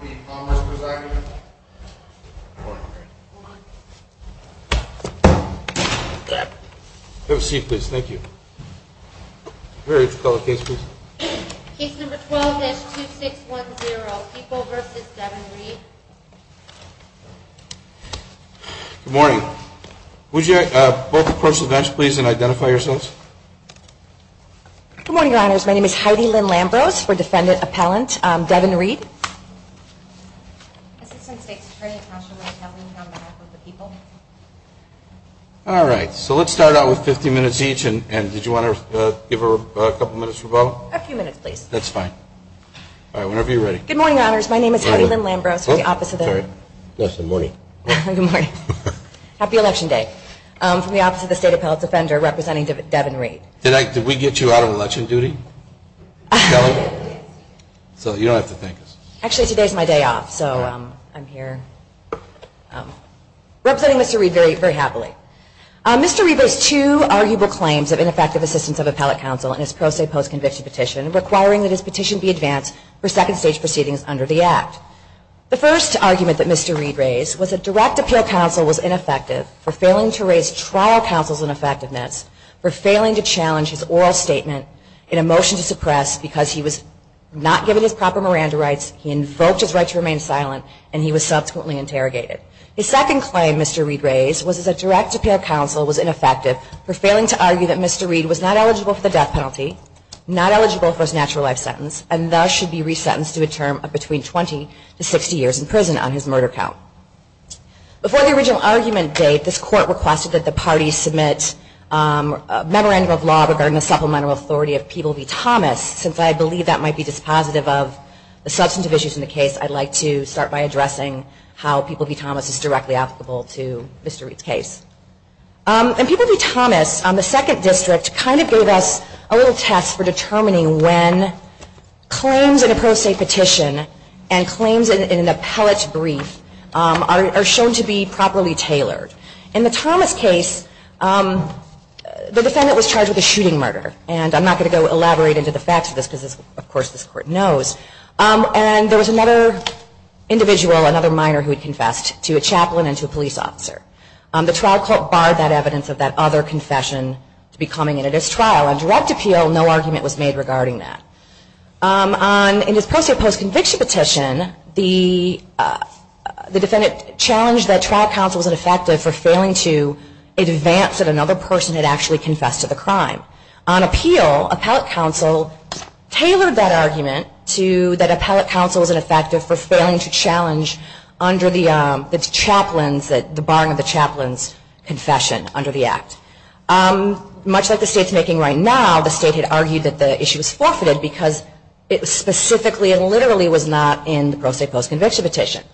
Good morning, Your Honors. My name is Heidi Lynn Lambrose for Defendant Appellant Devin Reed Good morning, Your Honors. My name is Heidi Lynn Lambrose from the Office of the State Appellate Defender representing Devin Reed. Mr. Reed raised two arguable claims of ineffective assistance of appellate counsel in his pro se post-conviction petition requiring that his petition be advanced for second stage proceedings under the Act. The first argument that Mr. Reed raised was ineffective for failing to raise trial counsel's ineffectiveness, for failing to challenge his oral statement in a motion to suppress because he was not given his proper Miranda rights, he invoked his right to remain silent, and he was subsequently interrogated. His second claim Mr. Reed raised was that direct appeal counsel was ineffective for failing to argue that Mr. Reed was not eligible for the death penalty, not eligible for his court requested that the parties submit a memorandum of law regarding the supplemental authority of People v. Thomas. Since I believe that might be dispositive of the substantive issues in the case, I'd like to start by addressing how People v. Thomas is directly applicable to Mr. Reed's case. And People v. Thomas on the second district kind of gave us a little test for determining when claims in a pro se petition and claims in an appellate brief are shown to be properly tailored. In the Thomas case, the defendant was charged with a shooting murder. And I'm not going to go elaborate into the facts of this because of course this court knows. And there was another individual, another minor who had confessed to a chaplain and to a police officer. The trial court barred that evidence of that other confession to be coming into this trial. On direct appeal, no argument was made regarding that. In his pro se post-conviction petition, the defendant challenged that trial counsel was ineffective for failing to advance that another person had actually confessed to the crime. On appeal, appellate counsel tailored that argument to that appellate counsel was ineffective for failing to challenge under the chaplains, the barring of the chaplains' confession under the act. Much like the state is making right now, the state had argued that the issue was forfeited because it specifically and literally was not in the pro se post-conviction petition.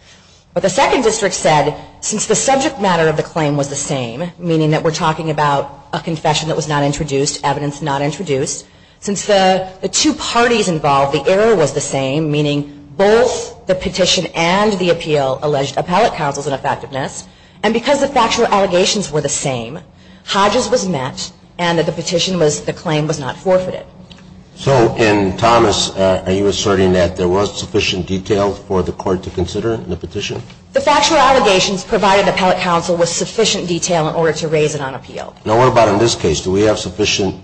But the second district said since the subject matter of the claim was the same, meaning that we're talking about a confession that was not introduced, evidence not introduced, since the two parties involved, the error was the same, meaning both the petition and the appeal alleged appellate counsel's ineffectiveness, and because the factual allegations were the same, Hodges was met, and that the petition was, the claim was not forfeited. So in Thomas, are you asserting that there was sufficient detail for the court to consider in the petition? The factual allegations provided appellate counsel with sufficient detail in order to raise it on appeal. Now what about in this case? Do we have sufficient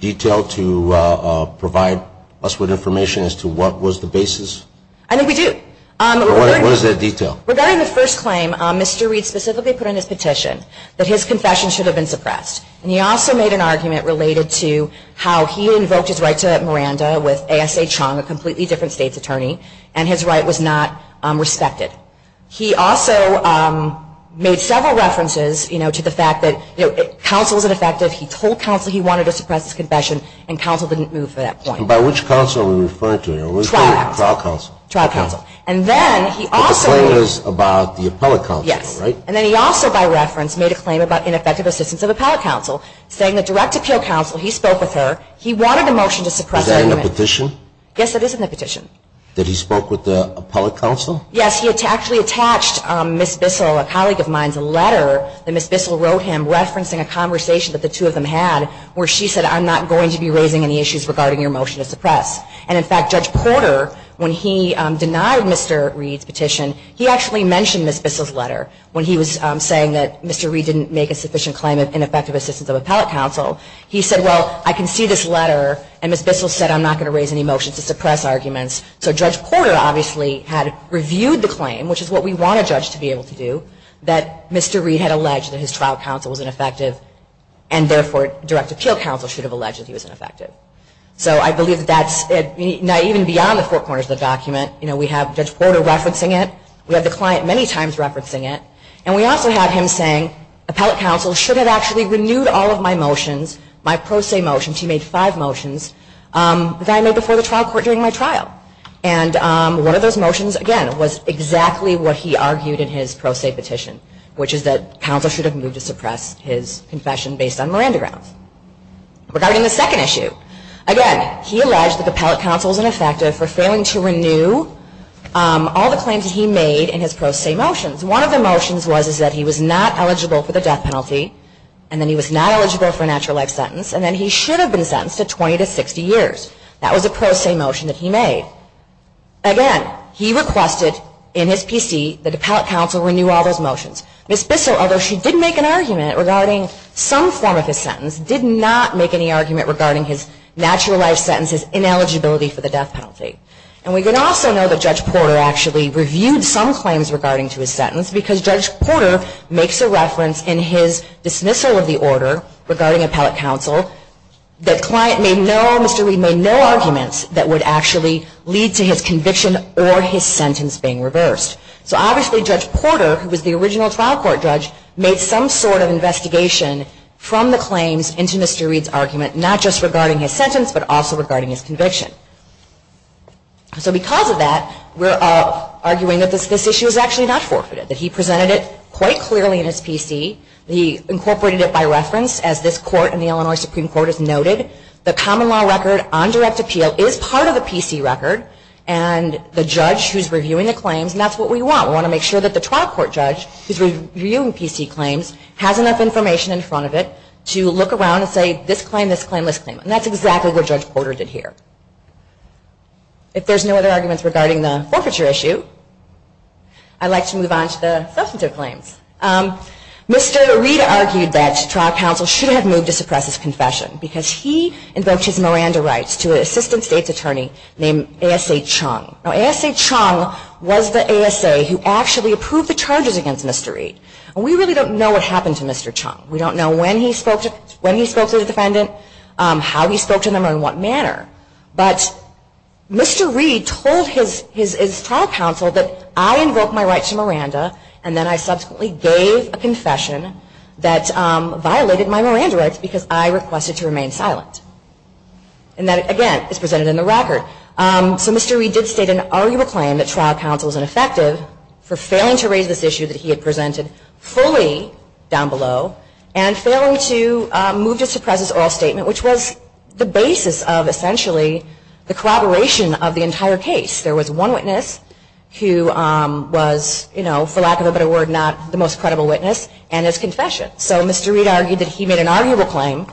detail to provide us with information as to what was the basis? I think we do. What is that detail? Regarding the first claim, Mr. Reed specifically put in his petition that his confession should have been suppressed. And he also made an argument related to how he invoked his right to Miranda with A.S.A. Chung, a completely different state's attorney, and his right was not respected. He also made several references, you know, to the fact that counsel's ineffective. He told counsel he wanted to suppress his confession, and counsel didn't move to that point. And by which counsel are we referring to here? Trial counsel. Trial counsel. And then he also made a claim about the appellate counsel, right? Yes. And then he also, by reference, made a claim about ineffective assistance of appellate counsel, saying that direct appeal counsel, he spoke with her, he wanted a motion to suppress her. Is that in the petition? Yes, it is in the petition. That he spoke with the appellate counsel? Yes, he actually attached Ms. Bissell, a colleague of mine's, a letter that Ms. Bissell wrote him referencing a conversation that the two of them had where she said, I'm not going to be raising any issues regarding your motion to suppress. And in fact, Judge Porter, when he denied Mr. Reed's petition, he actually mentioned Ms. Bissell's letter when he was saying that Mr. Reed didn't make a sufficient claim of ineffective assistance of appellate counsel. He said, well, I can see this letter, and Ms. Bissell said, I'm not going to raise any motions to suppress arguments. So Judge Porter obviously had reviewed the claim, which is what we want a judge to be able to do, that Mr. Reed had alleged that his trial counsel was ineffective, and therefore, direct appeal counsel should have alleged that he was ineffective. So I believe that's, even beyond the four corners of the document, we have Judge Porter referencing it, we have the client many times referencing it, and we also have him saying, appellate counsel should have actually renewed all of my motions, my pro se motions, he made five motions, that I made before the trial court during my trial. And one of those motions, again, was exactly what he argued in his pro se petition, which is that counsel should have moved to suppress his confession based on Miranda grounds. Regarding the second issue, again, he alleged that appellate counsel was ineffective for failing to renew all the claims he made in his pro se motions. One of the motions was that he was not eligible for the death penalty, and then he was not eligible for a natural life sentence, and then he should have been sentenced to 20 to 60 years. That was a pro se motion that he made. Again, he requested in his PC that appellate counsel renew all those motions. Ms. Bissell, although she did make an argument regarding some form of his sentence, did not make any argument regarding his natural life sentence, his ineligibility for the death penalty. And we can also know that Judge Porter actually reviewed some claims regarding to his sentence, because Judge Porter makes a reference in his dismissal of the order regarding appellate counsel, that client made no, Mr. Reed made no arguments that would actually lead to his conviction or his sentence being reversed. So obviously, Judge Porter, who was the original trial court judge, made some sort of investigation from the claims into Mr. Reed's argument, not just regarding his sentence, but also regarding his conviction. So because of that, we're arguing that this issue is actually not forfeited, that he presented it quite clearly in his PC. He incorporated it by reference, as this court and the Illinois Supreme Court has noted. The common law record on direct appeal is part of the PC record, and the judge who's reviewing the claims, and that's what we want. We want to make sure that the trial court judge who's reviewing PC claims has enough information in front of it to look around and say, this claim, this claim, this claim, and that's exactly what Judge Porter did here. If there's no other arguments regarding the forfeiture issue, I'd like to move on to the substantive claims. Mr. Reed argued that trial counsel should have moved to suppress his confession, because he invoked his Miranda rights to an assistant state's attorney named A.S.A. Mr. Chung was the A.S.A. who actually approved the charges against Mr. Reed. We really don't know what happened to Mr. Chung. We don't know when he spoke to the defendant, how he spoke to them, or in what manner. But Mr. Reed told his trial counsel that I invoked my rights to Miranda, and then I subsequently gave a confession that violated my Miranda rights because I requested to remain silent. And that, again, is presented in the record. So Mr. Reed did state an arguable claim that trial counsel was ineffective for failing to raise this issue that he had presented fully down below, and failing to move to suppress his oral statement, which was the basis of essentially the corroboration of the entire case. There was one witness who was, for lack of a better word, not the most credible witness, and his confession. So Mr. Reed argued that he made an arguable claim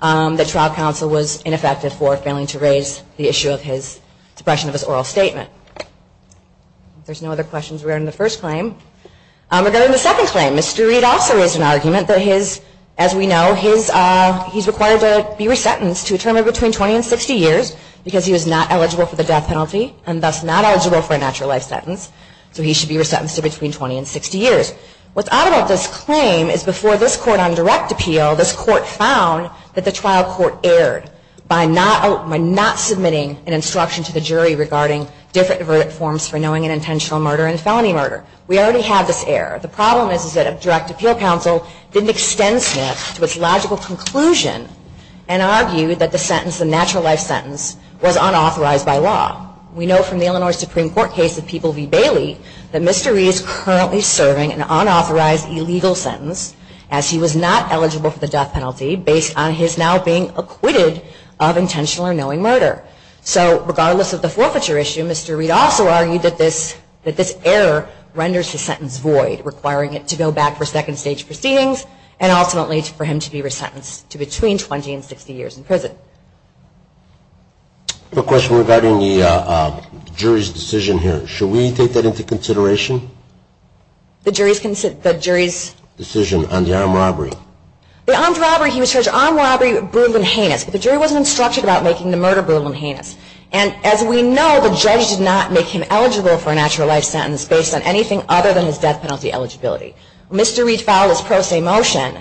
that trial counsel was ineffective for failing to raise the issue of his suppression of his oral statement. There's no other questions regarding the first claim. Regarding the second claim, Mr. Reed also raised an argument that his, as we know, he's required to be resentenced to a term of between 20 and 60 years because he was not eligible for the death penalty, and thus not eligible for a natural life sentence, so he should be resentenced to between 20 and 60 years. What's odd about this claim is before this court on direct appeal, this court found that the trial court erred by not submitting an instruction to the jury regarding different verdict forms for knowing an intentional murder and felony murder. We already have this error. The problem is that a direct appeal counsel didn't extend Smith to its logical conclusion and argued that the sentence, the natural life sentence, was unauthorized by law. We know from the Illinois Supreme Court case of People v. Bailey that Mr. Reed is currently serving an unauthorized illegal sentence as he was not eligible for the death penalty based on his now being acquitted of intentional or knowing murder. So regardless of the forfeiture issue, Mr. Reed also argued that this error renders the sentence void, requiring it to go back for second stage proceedings, and ultimately for him to be resentenced to between 20 and 60 years in prison. I have a question regarding the jury's decision here. Should we take that into consideration? The jury's decision on the armed robbery? The armed robbery, he was charged with armed robbery, brutal and heinous. The jury wasn't instructed about making the murder brutal and heinous. And as we know, the judge did not make him eligible for a natural life sentence based on anything other than his death penalty eligibility. Mr. Reed filed his pro se motion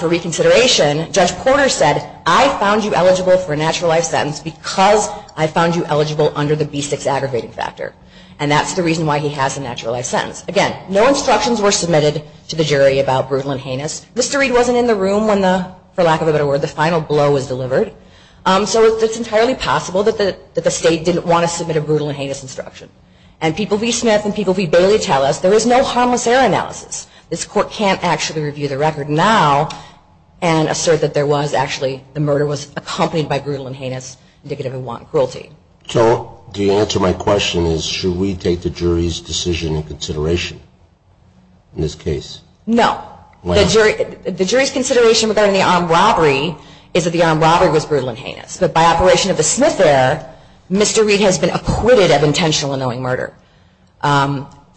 for reconsideration. Judge Porter said, I found you eligible for a natural life sentence because I found you eligible under the B6 aggravating factor. And that's the reason why he has a natural life sentence. Again, no instructions were submitted to the jury about brutal and heinous. Mr. Reed wasn't in the room when the, for lack of a better word, the final blow was delivered. So it's entirely possible that the state didn't want to submit a brutal and heinous instruction. And people be Smith and people be Bailey tell us there is no harmless error analysis. This court can't actually review the record now and assert that there was actually, the murder was accompanied by brutal and heinous indicative of one cruelty. So the answer to my question is, should we take the jury's decision and consideration in this case? No. The jury's consideration regarding the armed robbery is that the armed robbery was brutal and heinous. But by operation of the Smith error, Mr. Reed has been acquitted of intentional unknowing murder.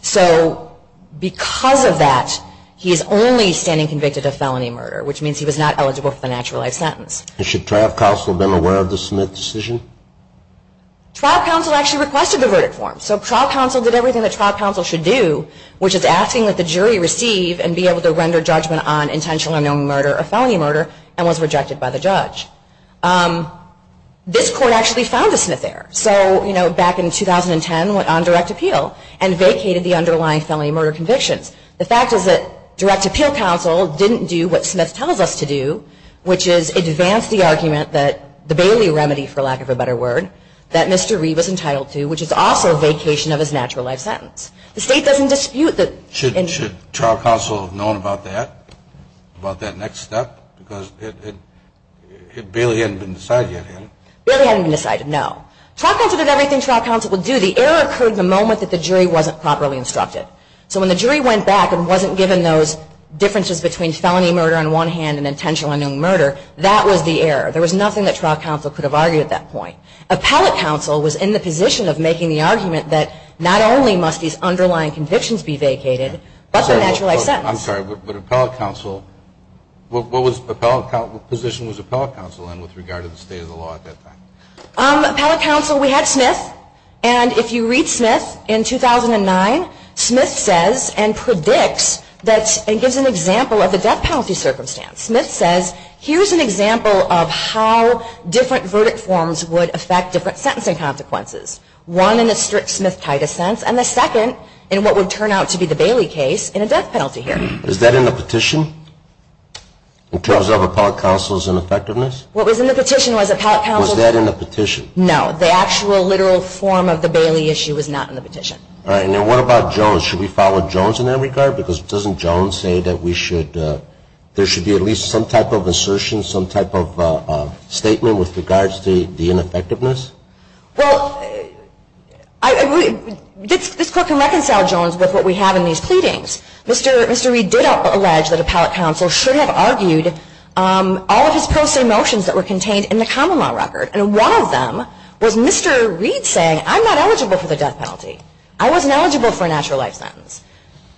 So because of that, he is only standing convicted of felony murder, which means he was not eligible for the natural life sentence. And should trial counsel have been aware of the Smith decision? Trial counsel actually requested the verdict form. So trial counsel did everything that trial counsel should do, which is asking that the jury receive and be able to render judgment on intentional unknowing murder or felony murder and was rejected by the judge. This court actually found a Smith error. So back in 2010, went on direct appeal and vacated the underlying felony murder convictions. The fact is that direct appeal counsel didn't do what Smith tells us to do, which is advance the argument that the Bailey remedy, for lack of a better word, that Mr. Reed was entitled to, which is also a vacation of his natural life sentence. The state doesn't dispute that. Should trial counsel have known about that, about that next step? Because Bailey hadn't been decided yet, had it? Bailey hadn't been decided, no. Trial counsel did everything trial counsel would do. The error occurred the moment that the jury wasn't properly instructed. So when the jury went back and wasn't given those differences between felony murder on one hand and intentional unknowing murder, that was the error. There was nothing that trial counsel could have argued at that point. Appellate counsel was in the position of making the argument that not only must these underlying convictions be vacated, but the natural life sentence. I'm sorry, but what position was appellate counsel in with regard to the state of the law at that time? Appellate counsel, we had Smith. And if you read Smith in 2009, Smith says and predicts and gives an example of the death penalty circumstance. Smith says, here's an example of how different verdict forms would affect different sentencing consequences. One in the strict Smith-Titus sense, and the second in what would turn out to be the Bailey case in a death penalty hearing. Is that in the petition? In terms of appellate counsel's ineffectiveness? What was in the petition was appellate counsel- Was that in the petition? No, the actual literal form of the Bailey issue was not in the petition. All right, now what about Jones? Should we follow Jones in that regard? Because doesn't Jones say that we should, there should be at least some type of assertion, some type of statement with regards to the ineffectiveness? Well, this court can reconcile Jones with what we have in these pleadings. Mr. Reid did allege that appellate counsel should have argued all of his pro se motions that were contained in the common law record. And one of them was Mr. Reid saying, I'm not eligible for the death penalty. I wasn't eligible for a natural life sentence.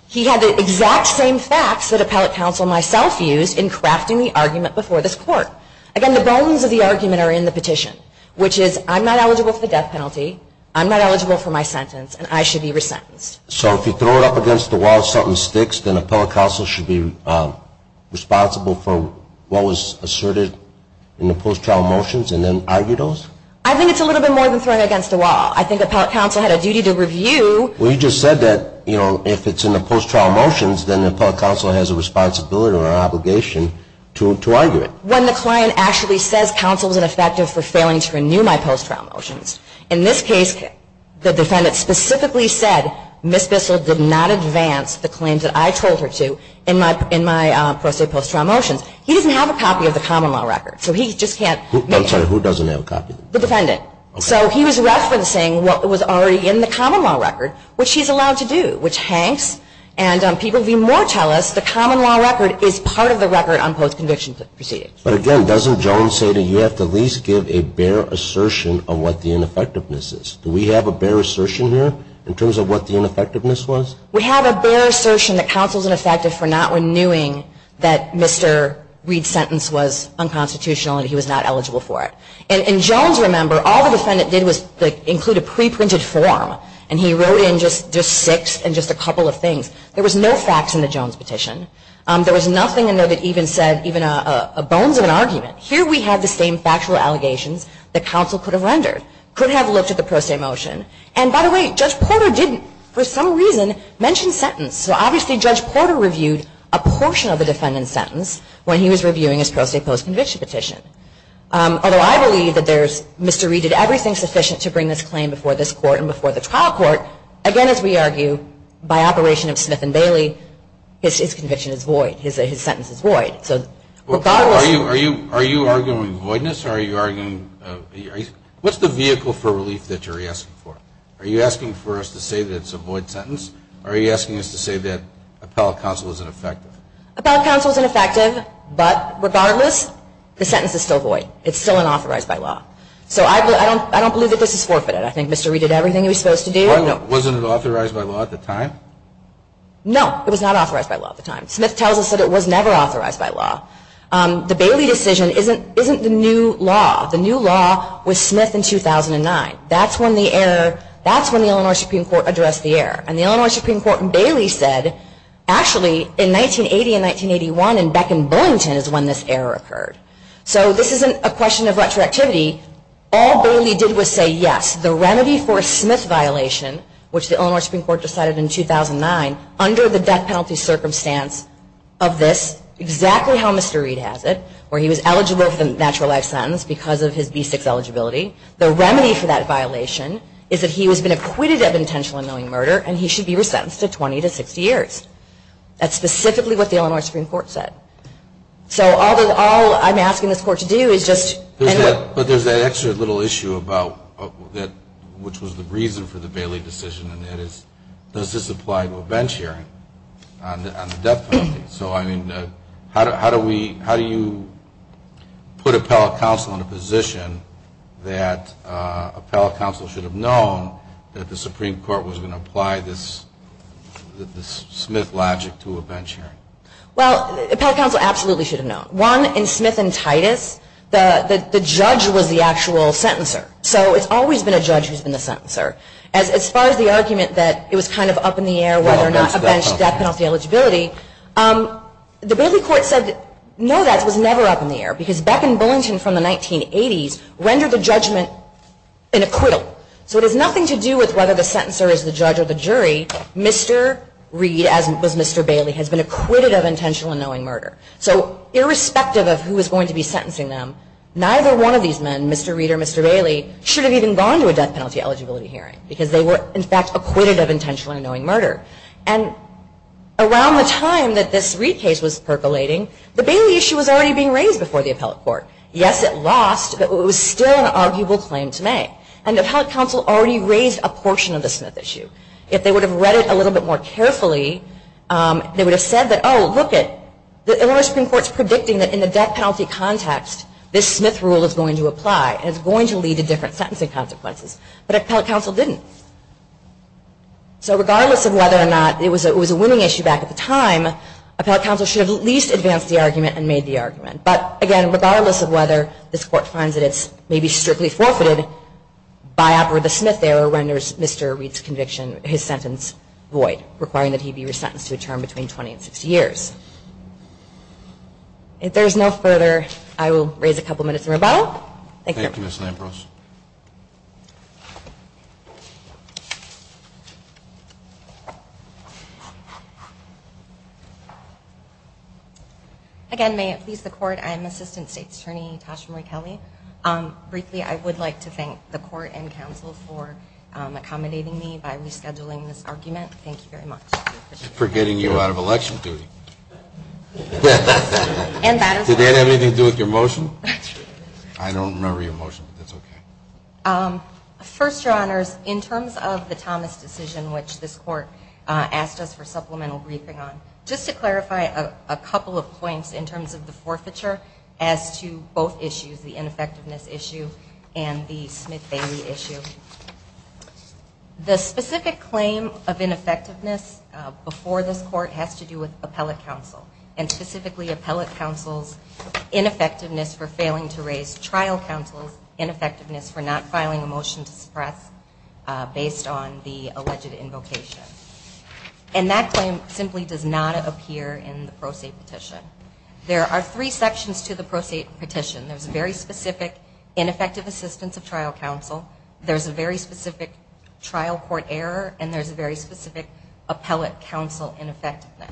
He had the exact same facts that appellate counsel myself used in crafting the argument before this court. Again, the bones of the argument are in the petition. Which is, I'm not eligible for the death penalty, I'm not eligible for my sentence, and I should be resentenced. So if you throw it up against the wall, something sticks, then appellate counsel should be responsible for what was asserted in the post-trial motions and then argue those? I think it's a little bit more than throwing it against the wall. I think appellate counsel had a duty to review- Well, you just said that if it's in the post-trial motions, then appellate counsel has a responsibility or an obligation to argue it. When the client actually says counsel is ineffective for failing to renew my post-trial motions, in this case, the defendant specifically said Ms. Bissell did not advance the claims that I told her to in my pro se post-trial motions. He doesn't have a copy of the common law record, so he just can't- Who doesn't have a copy? The defendant. So he was referencing what was already in the common law record, which he's allowed to do, which hanks. And people be more tell us the common law record is part of the record on post-conviction proceedings. But again, doesn't Jones say that you have to at least give a bare assertion of what the ineffectiveness is? Do we have a bare assertion here in terms of what the ineffectiveness was? We have a bare assertion that counsel's ineffective for not renewing that Mr. Reed's sentence was unconstitutional and he was not eligible for it. And Jones, remember, all the defendant did was include a pre-printed form. And he wrote in just six and just a couple of things. There was no facts in the Jones petition. There was nothing in there that even said even a bones of an argument. Here we have the same factual allegations that counsel could have rendered, could have looked at the pro se motion. And by the way, Judge Porter didn't, for some reason, mention sentence. So obviously, Judge Porter reviewed a portion of the defendant's sentence when he was reviewing his pro se post-conviction petition. Although I believe that there's, Mr. Reed did everything sufficient to bring this claim before this court and before the trial court. Again, as we argue, by operation of Smith and Bailey, his conviction is void. His sentence is void. So regardless- Are you arguing voidness? Are you arguing, what's the vehicle for relief that you're asking for? Are you asking for us to say that it's a void sentence? Or are you asking us to say that appellate counsel is ineffective? Appellate counsel is ineffective, but regardless, the sentence is still void. It's still unauthorized by law. So I don't believe that this is forfeited. I think Mr. Reed did everything he was supposed to do. No. Wasn't it authorized by law at the time? No, it was not authorized by law at the time. Smith tells us that it was never authorized by law. The Bailey decision isn't the new law. The new law was Smith in 2009. That's when the error, that's when the Illinois Supreme Court addressed the error. And the Illinois Supreme Court and Bailey said, actually, in 1980 and 1981, and back in Burlington is when this error occurred. So this isn't a question of retroactivity. All Bailey did was say, yes, the remedy for a Smith violation, which the Illinois Supreme Court decided in 2009, under the death penalty circumstance of this, exactly how Mr. Reed has it, where he was eligible for the natural life sentence because of his B6 eligibility. The remedy for that violation is that he has been acquitted of intentional unknowing murder, and he should be re-sentenced to 20 to 60 years. That's specifically what the Illinois Supreme Court said. So all I'm asking this court to do is just- But there's that extra little issue about, which was the reason for the Bailey decision, and that is, does this apply to a bench hearing on the death penalty? So I mean, how do you put appellate counsel in a position that appellate counsel should have known that the Supreme Court was going to apply this Smith logic to a bench hearing? Well, appellate counsel absolutely should have known. One, in Smith and Titus, the judge was the actual sentencer. So it's always been a judge who's been the sentencer. As far as the argument that it was kind of up in the air whether or not a bench death penalty eligibility, the Bailey court said, no, that was never up in the air. Because Beck and Bullington from the 1980s rendered the judgment an acquittal. So it has nothing to do with whether the sentencer is the judge or the jury. Mr. Reed, as was Mr. Bailey, has been acquitted of intentional unknowing murder. So irrespective of who is going to be sentencing them, neither one of these men, Mr. Reed or Mr. Bailey, should have even gone to a death penalty eligibility hearing, because they were, in fact, acquitted of intentional unknowing murder. And around the time that this Reed case was percolating, the Bailey issue was already being raised before the appellate court. Yes, it lost, but it was still an arguable claim to make. And the appellate counsel already raised a portion of the Smith issue. If they would have read it a little bit more carefully, they would have said that, oh, look it, the Illinois Supreme Court's predicting that in the death penalty context, this Smith rule is going to apply. And it's going to lead to different sentencing consequences. But appellate counsel didn't. So regardless of whether or not it was a winning issue back at the time, appellate counsel should have at least advanced the argument and made the argument. But again, regardless of whether this court finds that it's maybe strictly forfeited, by offer of the Smith error renders Mr. Reed's conviction, his sentence, void. Requiring that he be re-sentenced to a term between 20 and 60 years. If there's no further, I will raise a couple minutes in rebuttal. Thank you. Thank you, Ms. Lampros. Again, may it please the court, I am Assistant State's Attorney Tasha Marie Kelly. Briefly, I would like to thank the court and counsel for accommodating me by rescheduling this argument. Thank you very much. For getting you out of election duty. Did that have anything to do with your motion? I don't remember your motion, but that's okay. First, your honors, in terms of the Thomas decision, which this court asked us for supplemental briefing on. Just to clarify a couple of points in terms of the forfeiture, as to both issues, the ineffectiveness issue and the Smith-Bailey issue. The specific claim of ineffectiveness before this court has to do with appellate counsel. And specifically, appellate counsel's ineffectiveness for failing to raise trial counsel's ineffectiveness for not filing a motion to suppress based on the alleged invocation. And that claim simply does not appear in the pro se petition. There are three sections to the pro se petition. There's a very specific ineffective assistance of trial counsel. There's a very specific trial court error. And there's a very specific appellate counsel ineffectiveness.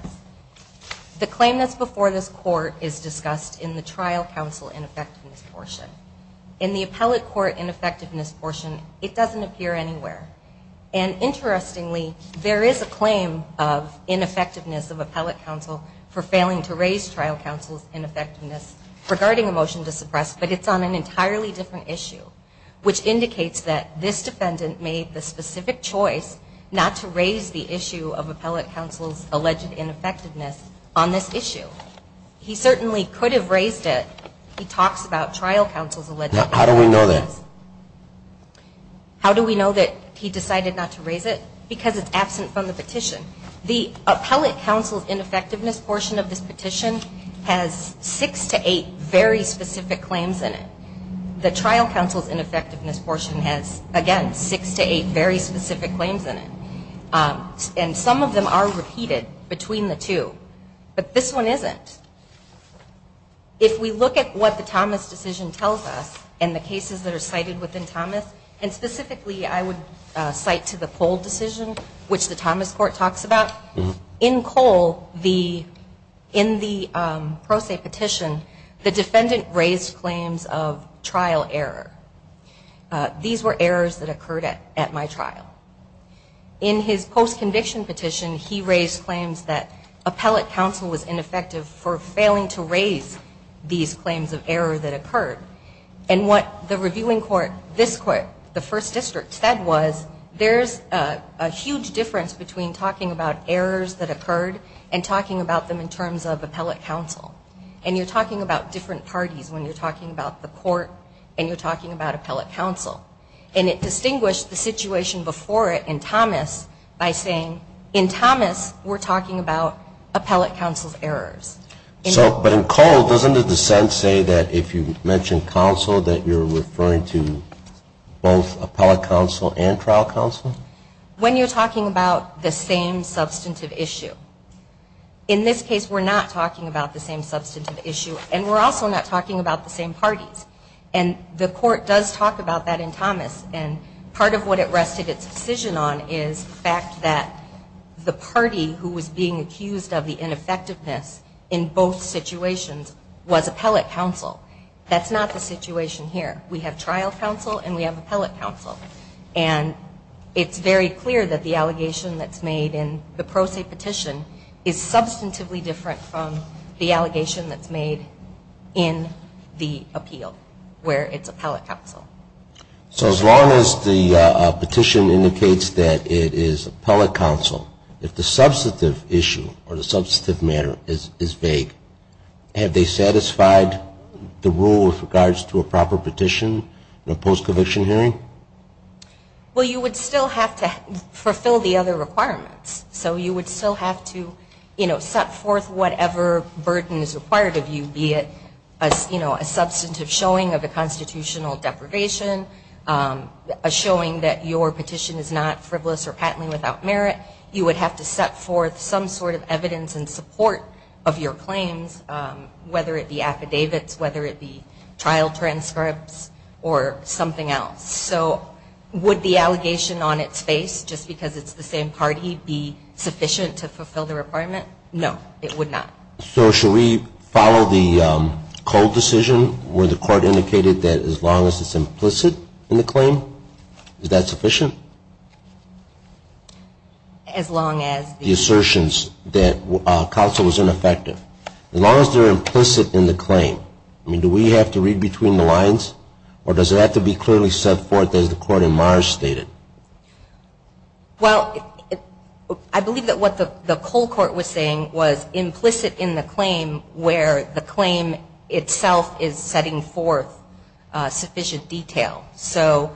The claim that's before this court is discussed in the trial counsel ineffectiveness portion. In the appellate court ineffectiveness portion, it doesn't appear anywhere. And interestingly, there is a claim of ineffectiveness of appellate counsel for failing to raise trial counsel's ineffectiveness regarding a motion to suppress. But it's on an entirely different issue, which indicates that this defendant made the specific choice not to raise the issue of appellate counsel's alleged ineffectiveness on this issue. He certainly could have raised it. He talks about trial counsel's alleged ineffectiveness. How do we know that he decided not to raise it? Because it's absent from the petition. The appellate counsel's ineffectiveness portion of this petition has six to eight very specific claims in it. The trial counsel's ineffectiveness portion has, again, six to eight very specific claims in it, and some of them are repeated between the two. But this one isn't. If we look at what the Thomas decision tells us, and the cases that are cited within Thomas, and specifically I would cite to the Cole decision, which the Thomas court talks about. In Cole, in the pro se petition, the defendant raised claims of trial error. These were errors that occurred at my trial. In his post-conviction petition, he raised claims that appellate counsel was ineffective for failing to raise these claims of error that occurred. And what the reviewing court, this court, the first district said was, there's a huge difference between talking about errors that occurred and talking about them in terms of appellate counsel. And you're talking about different parties when you're talking about the court, and you're talking about appellate counsel. And it distinguished the situation before it in Thomas by saying, in Thomas, we're talking about appellate counsel's errors. So, but in Cole, doesn't the dissent say that if you mention counsel, that you're referring to both appellate counsel and trial counsel? When you're talking about the same substantive issue. In this case, we're not talking about the same substantive issue, and we're also not talking about the same parties. And the court does talk about that in Thomas, and part of what it rested its decision on is the fact that the party who was being accused of the ineffectiveness in both situations was appellate counsel. That's not the situation here. We have trial counsel and we have appellate counsel. And it's very clear that the allegation that's made in the pro se petition is substantively different from the allegation that's made in the appeal, where it's appellate counsel. So as long as the petition indicates that it is appellate counsel, if the substantive issue or the substantive matter is vague, have they satisfied the rule with regards to a proper petition in a post conviction hearing? Well, you would still have to fulfill the other requirements. So you would still have to set forth whatever burden is required of you, be it a substantive showing of a constitutional deprivation, a showing that your petition is not frivolous or patently without merit. You would have to set forth some sort of evidence in support of your claims, whether it be affidavits, whether it be trial transcripts, or something else. So would the allegation on its face, just because it's the same party, be sufficient to fulfill the requirement? No, it would not. So should we follow the Cole decision, where the court indicated that as long as it's implicit in the claim, is that sufficient? As long as the- The assertions that counsel was ineffective. As long as they're implicit in the claim, I mean, do we have to read between the lines? Or does it have to be clearly set forth as the court in Mars stated? Well, I believe that what the Cole court was saying was implicit in the claim, where the claim itself is setting forth sufficient detail. So,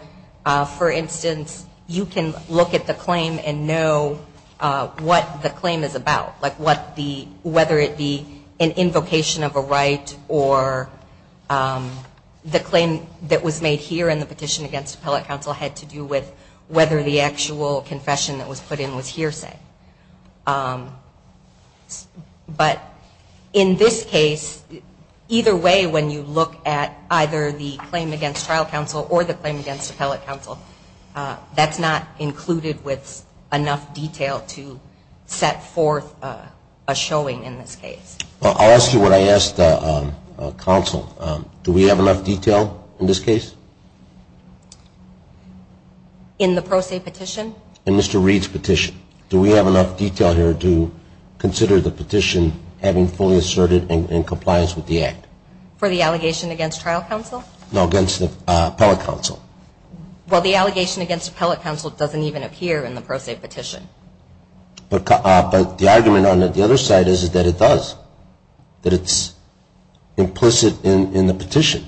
for instance, you can look at the claim and know what the claim is about, whether it be an invocation of a right or the claim that was made here in the petition against appellate counsel had to do with whether the actual confession that was put in was hearsay. But in this case, either way, when you look at either the claim against trial counsel or the claim against appellate counsel, that's not included with enough detail to set forth a showing in this case. I'll ask you what I asked counsel. Do we have enough detail in this case? In the pro se petition? In Mr. Reed's petition. Do we have enough detail here to consider the petition having fully asserted in compliance with the act? For the allegation against trial counsel? No, against appellate counsel. Well, the allegation against appellate counsel doesn't even appear in the pro se petition. But the argument on the other side is that it does. That it's implicit in the petition.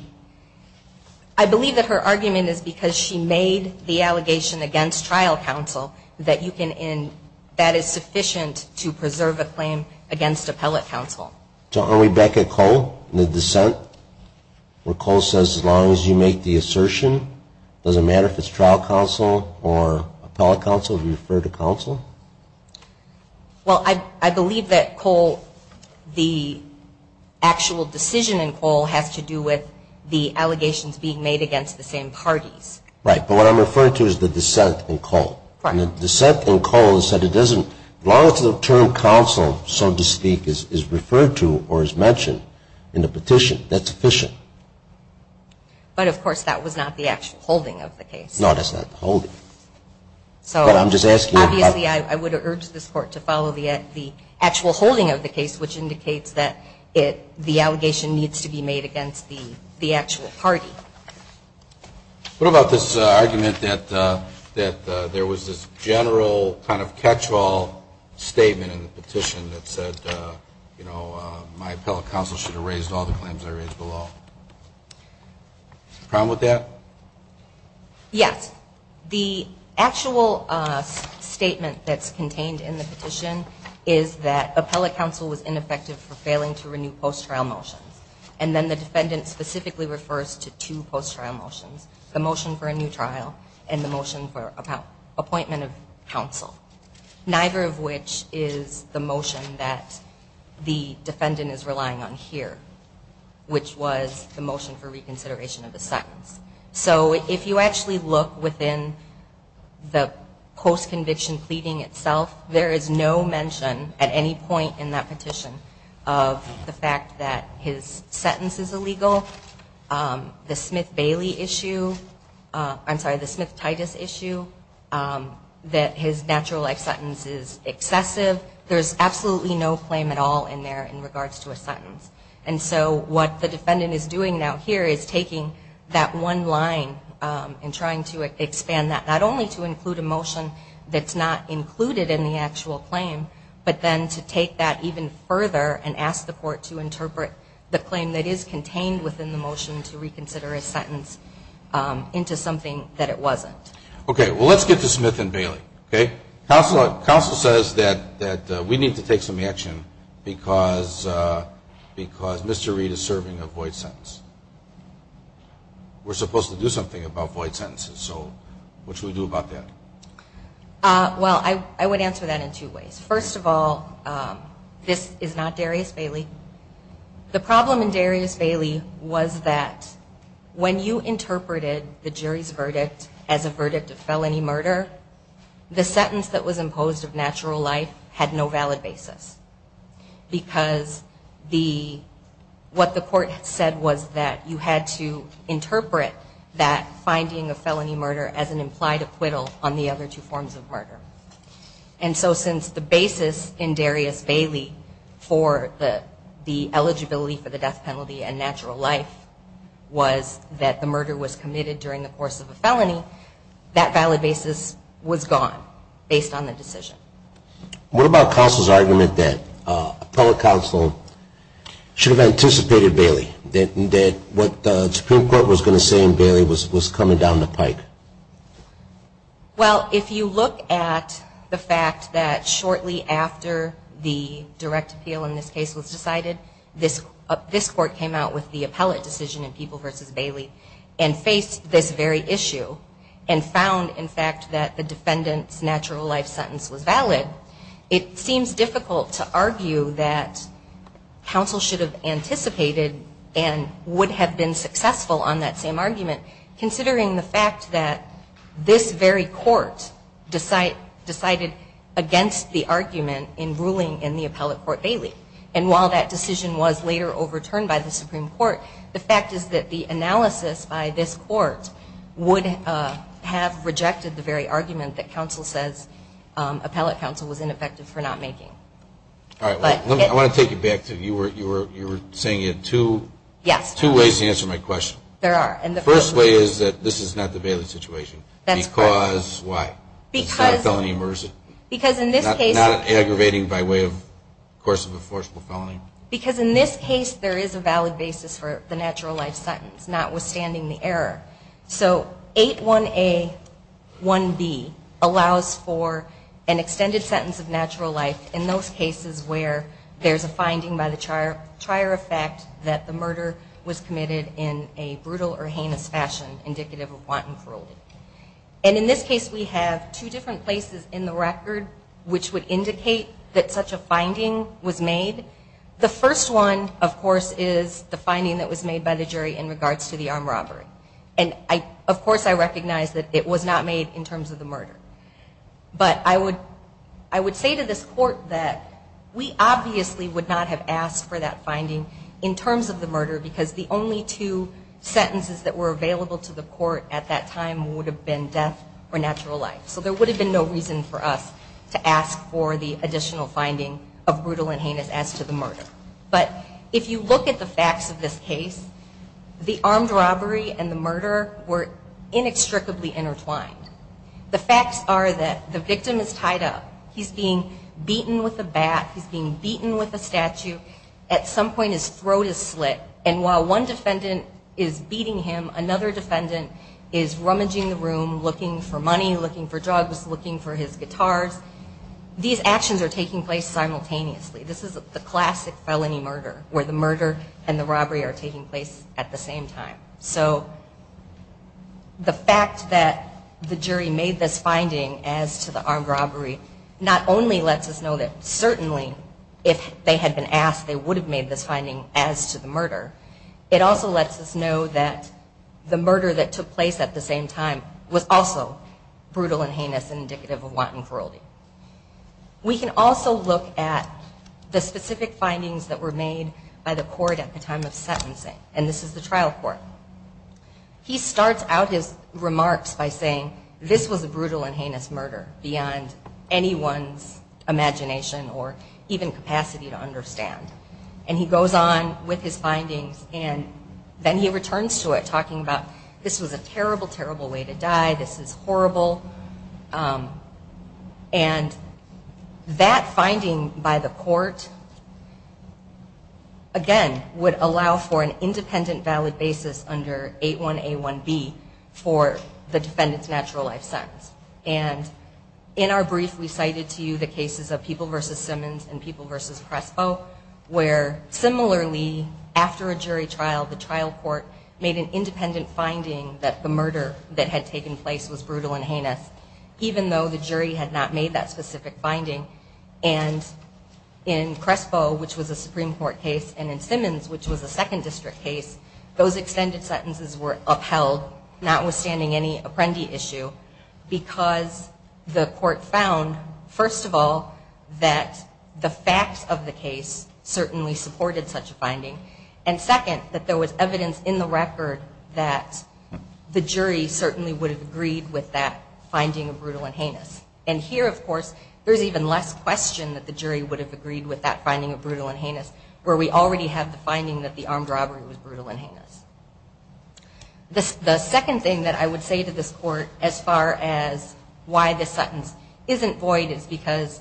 I believe that her argument is because she made the allegation against trial counsel that you can and that is sufficient to preserve a claim against appellate counsel. So are we back at Cole in the dissent where Cole says as long as you make the assertion, it doesn't matter if it's trial counsel or appellate counsel, refer to counsel? Well, I believe that Cole, the actual decision in Cole has to do with the allegations being made against the same parties. Right, but what I'm referring to is the dissent in Cole. And the dissent in Cole is that it doesn't, as long as the term counsel, so to speak, is referred to or is mentioned in the petition, that's sufficient. But of course that was not the actual holding of the case. No, that's not the holding. But I'm just asking. Obviously I would urge this court to follow the actual holding of the case, which indicates that the allegation needs to be made against the actual party. What about this argument that there was this general kind of catch-all statement in the petition that said, you know, my appellate counsel should have raised all the claims I raised below. Is there a problem with that? Yes. The actual statement that's contained in the petition is that appellate counsel was ineffective for failing to renew post-trial motions. And then the defendant specifically refers to two post-trial motions, the motion for a new trial and the motion for appointment of counsel, neither of which is the motion that the defendant is relying on here, which was the motion for reconsideration of the sentence. So if you actually look within the post-conviction pleading itself, there is no mention at any point in that petition of the fact that his sentence is illegal, the Smith-Titus issue, that his natural life sentence is excessive. There's absolutely no claim at all in there in regards to a sentence. And so what the defendant is doing now here is taking that one line and trying to expand that, not only to include a motion that's not included in the actual claim, but then to take that even further and ask the court to interpret the claim that is contained within the motion to reconsider a sentence into something that it wasn't. Okay. Well, let's get to Smith and Bailey. Okay? Counsel says that we need to take some action because Mr. Reid is serving a void sentence. We're supposed to do something about void sentences. So what should we do about that? Well, I would answer that in two ways. First of all, this is not Darius Bailey. The problem in Darius Bailey was that when you interpreted the jury's verdict as a verdict of felony murder, the sentence that was imposed of natural life had no valid basis. Because what the court said was that you had to interpret that finding of felony murder as an implied acquittal on the other two forms of murder. And so since the basis in Darius Bailey for the eligibility for the death penalty and natural life was that the murder was committed during the course of a felony, that valid basis was gone based on the decision. What about counsel's argument that appellate counsel should have anticipated Bailey, that what the Supreme Court was going to say in Bailey was coming down the pike? Well, if you look at the fact that shortly after the direct appeal in this case was decided, this court came out with the appellate decision in People v. Bailey and faced this very issue and found, in fact, that the defendant's natural life sentence was valid, it seems difficult to argue that counsel should have anticipated and would have been successful on that same argument, considering the fact that this very court decided against the argument in ruling in the appellate court Bailey. And while that decision was later overturned by the Supreme Court, the fact is that the analysis by this court would have rejected the very argument that counsel says appellate counsel was ineffective for not making. All right. I want to take it back to you were saying you had two ways to answer my question. There are. And the first way is that this is not the Bailey situation. That's correct. Because why? Because. It's not a felony of mercy. Because in this case. Not aggravating by way of course of a forceful felony. Because in this case there is a valid basis for the natural life sentence, notwithstanding the error. So 8181B allows for an extended sentence of natural life in those cases where there's a finding by the trier of fact that the murder was committed in a brutal or heinous fashion indicative of wanton cruelty. And in this case we have two different places in the record which would The first one of course is the finding that was made by the jury in regards to the armed robbery. And of course I recognize that it was not made in terms of the murder. But I would say to this court that we obviously would not have asked for that finding in terms of the murder because the only two sentences that were available to the court at that time would have been death or natural life. So there would have been no reason for us to ask for the additional finding of But if you look at the facts of this case, the armed robbery and the murder were inextricably intertwined. The facts are that the victim is tied up. He's being beaten with a bat. He's being beaten with a statue. At some point his throat is slit. And while one defendant is beating him, another defendant is rummaging the room looking for money, looking for drugs, looking for his guitars. These actions are taking place simultaneously. This is the classic felony murder where the murder and the robbery are taking place at the same time. So the fact that the jury made this finding as to the armed robbery not only lets us know that certainly if they had been asked they would have made this finding as to the murder. It also lets us know that the murder that took place at the same time was also brutal and heinous and indicative of wanton cruelty. We can also look at the specific findings that were made by the court at the time of sentencing. And this is the trial court. He starts out his remarks by saying this was a brutal and heinous murder beyond anyone's imagination or even capacity to understand. And he goes on with his findings and then he returns to it talking about this was a terrible, terrible way to die. This is horrible. And that finding by the court, again, would allow for an independent valid basis under 8181B for the defendant's natural life sentence. And in our brief we cited to you the cases of People v. Simmons and People v. Prespo where similarly after a jury trial the trial court made an independent finding that the murder that had taken place was brutal and heinous, even though the jury had not made that specific finding. And in Prespo, which was a Supreme Court case, and in Simmons, which was a second district case, those extended sentences were upheld, notwithstanding any Apprendi issue, because the court found, first of all, that the facts of the case certainly supported such a finding. And second, that there was evidence in the record that the jury certainly would have agreed with that finding of brutal and heinous. And here, of course, there's even less question that the jury would have agreed with that finding of brutal and heinous where we already have the finding that the armed robbery was brutal and heinous. The second thing that I would say to this court as far as why this sentence isn't void is because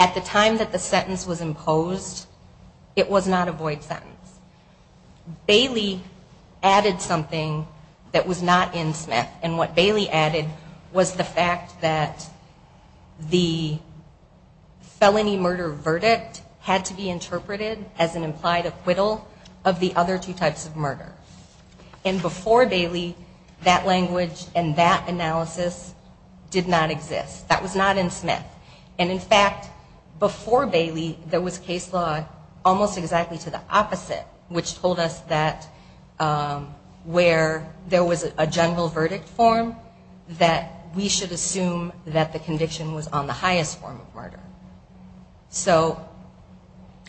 at the time that the sentence was imposed, it was not a verdict. Bailey added something that was not in Smith, and what Bailey added was the fact that the felony murder verdict had to be interpreted as an implied acquittal of the other two types of murder. And before Bailey, that language and that analysis did not exist. That was not in Smith. And in fact, before Bailey, there was case law almost exactly to the opposite, which told us that where there was a general verdict form, that we should assume that the conviction was on the highest form of murder. So,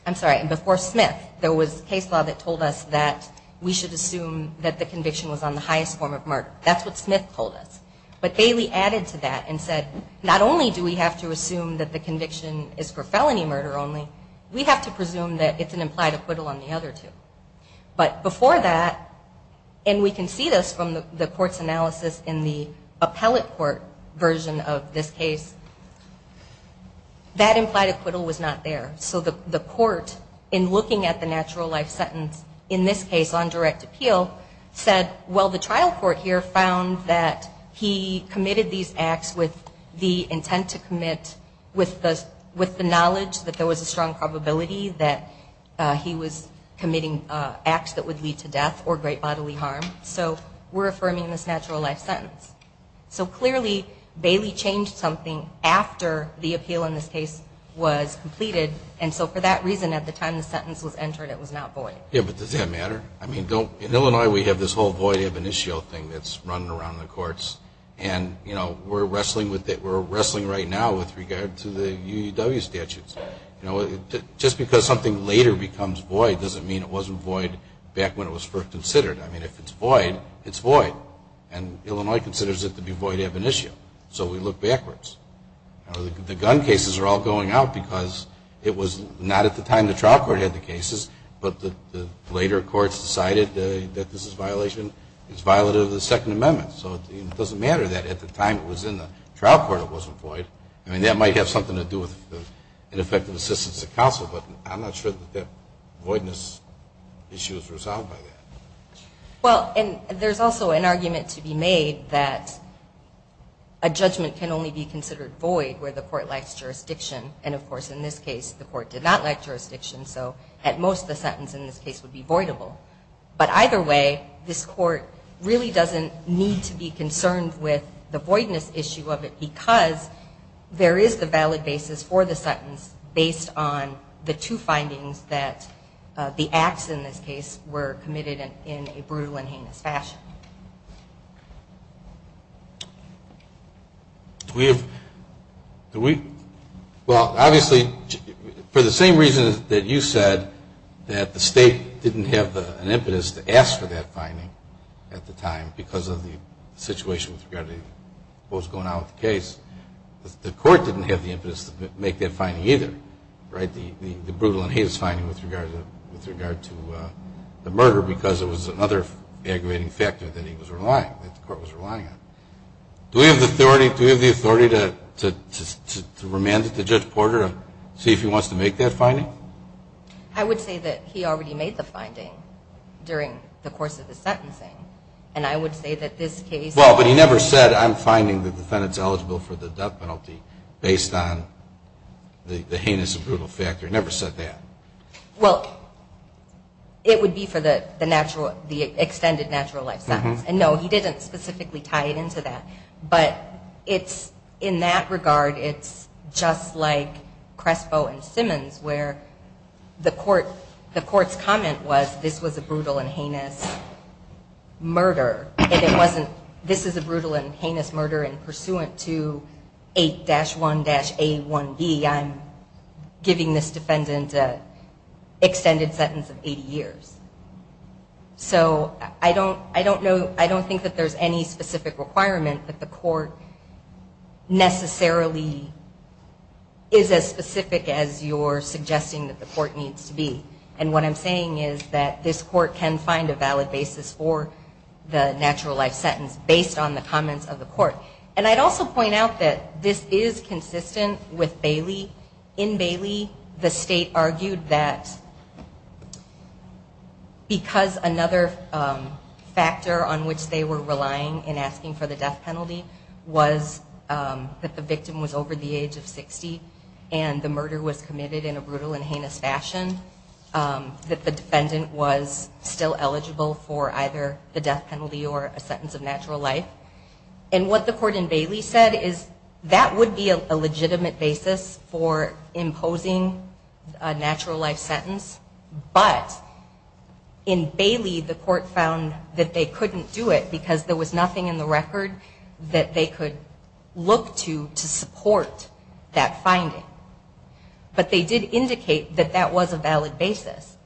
I'm sorry, before Smith, there was case law that told us that we should assume that the conviction was on the highest form of murder. That's what Smith told us. But Bailey added to that and said, not only do we have to assume that the conviction is for felony murder only, we have to assume that there's an implied acquittal on the other two. But before that, and we can see this from the court's analysis in the appellate court version of this case, that implied acquittal was not there. So the court, in looking at the natural life sentence, in this case on direct appeal, said, well, the trial court here found that he committed these acts with the intent to commit with the knowledge that there was a strong probability that he was committing acts that would lead to death or great bodily harm. So we're affirming this natural life sentence. So clearly, Bailey changed something after the appeal in this case was completed. And so for that reason, at the time the sentence was entered, it was not void. Yeah, but does that matter? I mean, in Illinois, we have this whole void ab initio thing that's running around in the courts. And we're wrestling right now with regard to the UUW statutes. Just because something later becomes void doesn't mean it wasn't void back when it was first considered. I mean, if it's void, it's void. And Illinois considers it to be void ab initio. So we look backwards. The gun cases are all going out because it was not at the time the trial court had the cases, but the later courts decided that this is violation, it's violative of the Second Amendment. So it doesn't matter that at the time it was in the trial court it wasn't void. I mean, that might have something to do with ineffective assistance of counsel, but I'm not sure that that voidness issue is resolved by that. Well, and there's also an argument to be made that a judgment can only be considered void where the court lacks jurisdiction. And of course, in this case, the court did not lack jurisdiction. So at most, the sentence in this case would be voidable. But either way, this court really doesn't need to be concerned with the voidness issue of it because there is the valid basis for the sentence based on the two findings that the acts in this case were committed in a brutal and heinous fashion. Do we have, do we, well, obviously, for the same reason that you said that the State didn't have an impetus to ask for that finding at the time because of the situation with regard to what was going on with the case, the court didn't have the impetus to make that finding either, right, the brutal and heinous finding with regard to the murder because it was another aggravating factor that he was relying, that the court was relying on. Do we have the authority, do we have the authority to remand it to Judge Porter and see if he wants to make that finding? I would say that he already made the finding during the course of the case. Well, but he never said I'm finding the defendant's eligible for the death penalty based on the heinous and brutal factor. He never said that. Well, it would be for the natural, the extended natural life sentence. And no, he didn't specifically tie it into that. But it's, in that regard, it's just like Crespo and Simmons where the court, the court's comment was this was a brutal and heinous murder and it wasn't, this is a brutal and heinous murder and pursuant to 8-1-A1B, I'm giving this defendant an extended sentence of 80 years. So I don't know, I don't think that there's any specific requirement that the court necessarily is as specific as you're saying that the court can find a valid basis for the natural life sentence based on the comments of the court. And I'd also point out that this is consistent with Bailey. In Bailey, the state argued that because another factor on which they were relying in asking for the death penalty was that the victim was over the age of 60 and the murder was committed in a brutal and heinous fashion, that the victim was still eligible for either the death penalty or a sentence of natural life. And what the court in Bailey said is that would be a legitimate basis for imposing a natural life sentence. But in Bailey, the court found that they couldn't do it because there was nothing in the record that they could look to to support that finding. But they did indicate that that was a valid basis.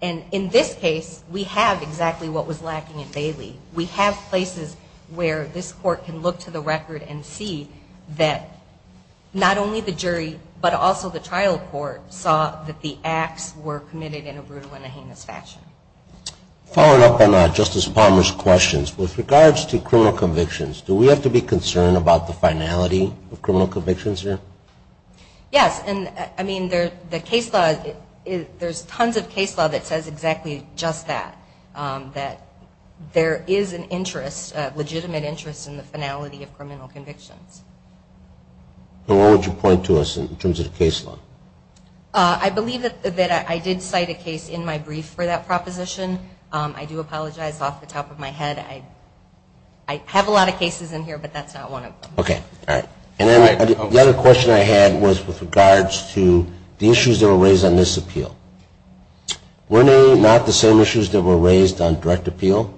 And in this case, we have exactly what was lacking in Bailey. We have places where this court can look to the record and see that not only the jury but also the trial court saw that the acts were committed in a brutal and a heinous fashion. Following up on Justice Palmer's questions, with regards to criminal convictions, do we have to be concerned about the finality of criminal convictions here? Yes. And I mean, the case law, there's tons of case law that says exactly just that, that there is an interest, a legitimate interest in the finality of criminal convictions. And what would you point to us in terms of the case law? I believe that I did cite a case in my brief for that proposition. I do apologize off the top of my head. I have a lot of cases in here, but that's not one of them. Okay. All right. And then the other question I had was with regards to the issues that were raised on this appeal. Were they not the same issues that were raised on direct appeal?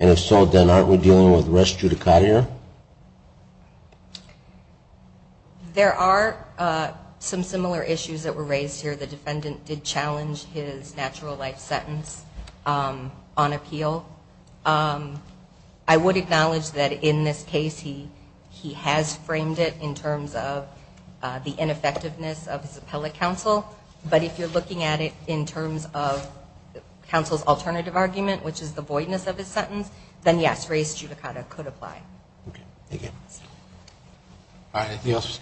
And if so, then aren't we dealing with rest judicata here? There are some similar issues that were raised here. The defendant did challenge his natural life sentence on appeal. I would acknowledge that in this case, he has framed it in terms of the ineffectiveness of his appellate counsel. But if you're looking at it in terms of counsel's alternative argument, which is the voidness of his sentence, then yes, rest judicata could apply. Okay. Thank you. All right. Anything else was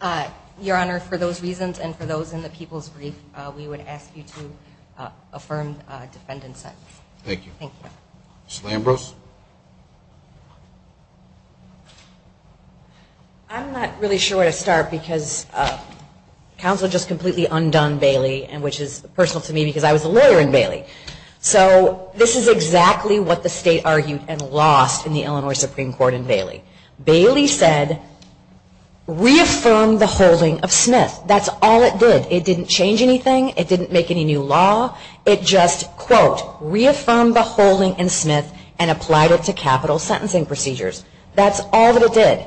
coming? Your Honor, for those reasons and for those in the people's brief, we would ask you to affirm defendant's sentence. Thank you. Thank you. Ms. Lambros. I'm not really sure where to start because counsel just completely undone Bailey, which is personal to me because I was a lawyer in Bailey. So this is exactly what the state argued and lost in the Illinois Supreme Court in Bailey. Bailey said, reaffirm the holding of Smith. That's all it did. It didn't change anything. It didn't make any new law. It just, quote, reaffirmed the holding in Smith and applied it to capital sentencing procedures. That's all that it did.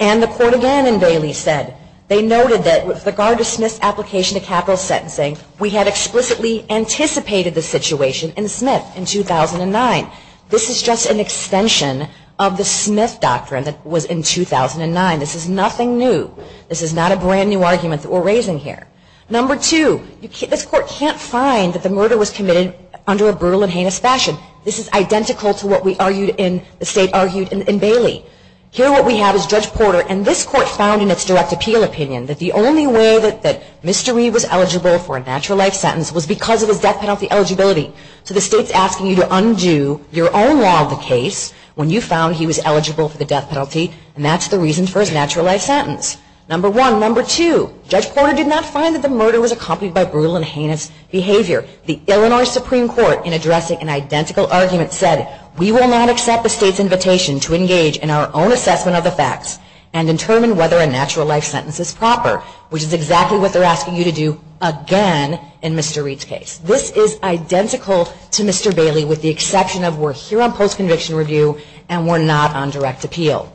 And the court again in Bailey said, they noted that with regard to Smith's application to capital sentencing, we had explicitly anticipated the situation in Smith in 2009. This is just an extension of the Smith doctrine that was in 2009. This is nothing new. This is not a brand new argument that we're raising here. Number two, this court can't find that the murder was committed under a state's fashion. This is identical to what the state argued in Bailey. Here what we have is Judge Porter and this court found in its direct appeal opinion that the only way that Mr. Reed was eligible for a natural life sentence was because of his death penalty eligibility. So the state's asking you to undo your own law of the case when you found he was eligible for the death penalty and that's the reason for his natural life sentence. Number one. Number two, Judge Porter did not find that the murder was accompanied by brutal and heinous behavior. The Illinois Supreme Court in addressing an identical argument said, we will not accept the state's invitation to engage in our own assessment of the facts and determine whether a natural life sentence is proper, which is exactly what they're asking you to do again in Mr. Reed's case. This is identical to Mr. Bailey with the exception of we're here on post-conviction review and we're not on direct appeal.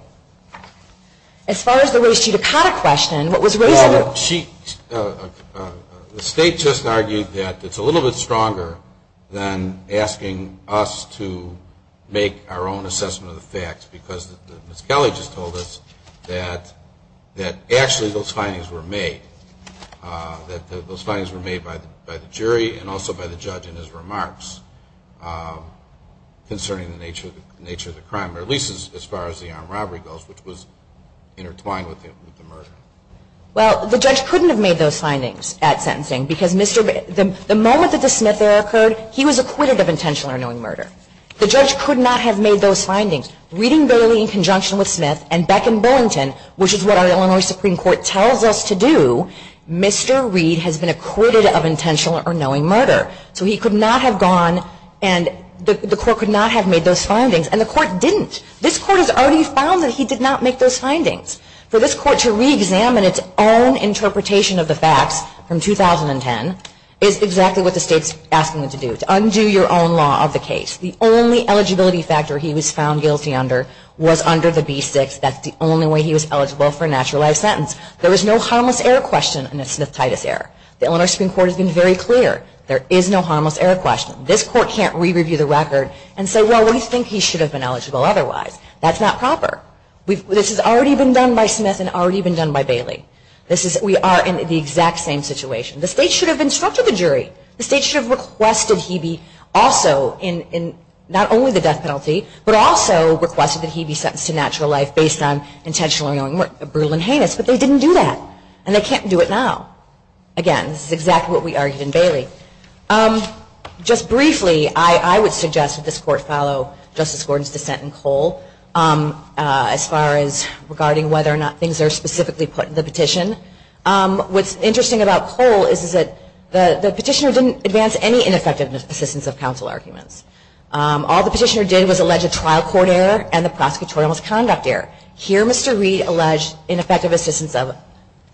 As far as the Rocheet Akata question, what was Rocheet... The state just argued that it's a little bit stronger than asking us to make our own assessment of the facts because Ms. Kelly just told us that actually those findings were made. Those findings were made by the jury and also by the judge in his remarks concerning the nature of the crime, or at least as far as the armed robbery goes, which was intertwined with the murder. Well, the judge couldn't have made those findings at sentencing because the moment that the Smith error occurred, he was acquitted of intentional or knowing murder. The judge could not have made those findings. Reading Bailey in conjunction with Smith and Beck and Bullington, which is what our Illinois Supreme Court tells us to do, Mr. Reed has been acquitted of intentional or knowing murder. So he could not have gone and the court could not have made those findings, and the court didn't. This court has already found that he did not make those findings. For this court to re-examine its own interpretation of the facts from 2010 is exactly what the state's asking them to do, to undo your own law of the case. The only eligibility factor he was found guilty under was under the B6. That's the only way he was eligible for a naturalized sentence. There was no harmless error question in the Smith-Titus error. The Illinois Supreme Court has been very clear. There is no harmless error question. This court can't re-review the record and say, well, we think he should have been eligible otherwise. That's not proper. This has already been done by Smith and already been done by Bailey. We are in the exact same situation. The state should have instructed the jury. The state should have requested he be also in not only the death penalty, but also requested that he be sentenced to natural life based on intentional or knowing murder. Brutal and heinous. But they didn't do that. And they can't do it now. Again, this is exactly what we argued in Bailey. Just briefly, I would suggest that this court follow Justice Gordon's dissent in Cole as far as regarding whether or not things are specifically put in the petition. What's interesting about Cole is that the petitioner didn't advance any ineffective assistance of counsel arguments. All the petitioner did was allege a trial court error and the prosecutorial misconduct error. Here, Mr. Reed alleged ineffective assistance of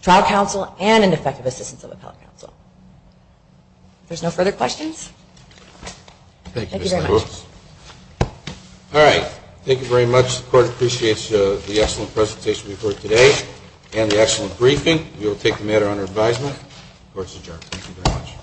trial counsel and ineffective assistance of appellate counsel. If there's no further questions. Thank you very much. All right. Thank you very much. The court appreciates the excellent presentation we've heard today and the excellent briefing. We will take the matter under advisement. Court is adjourned.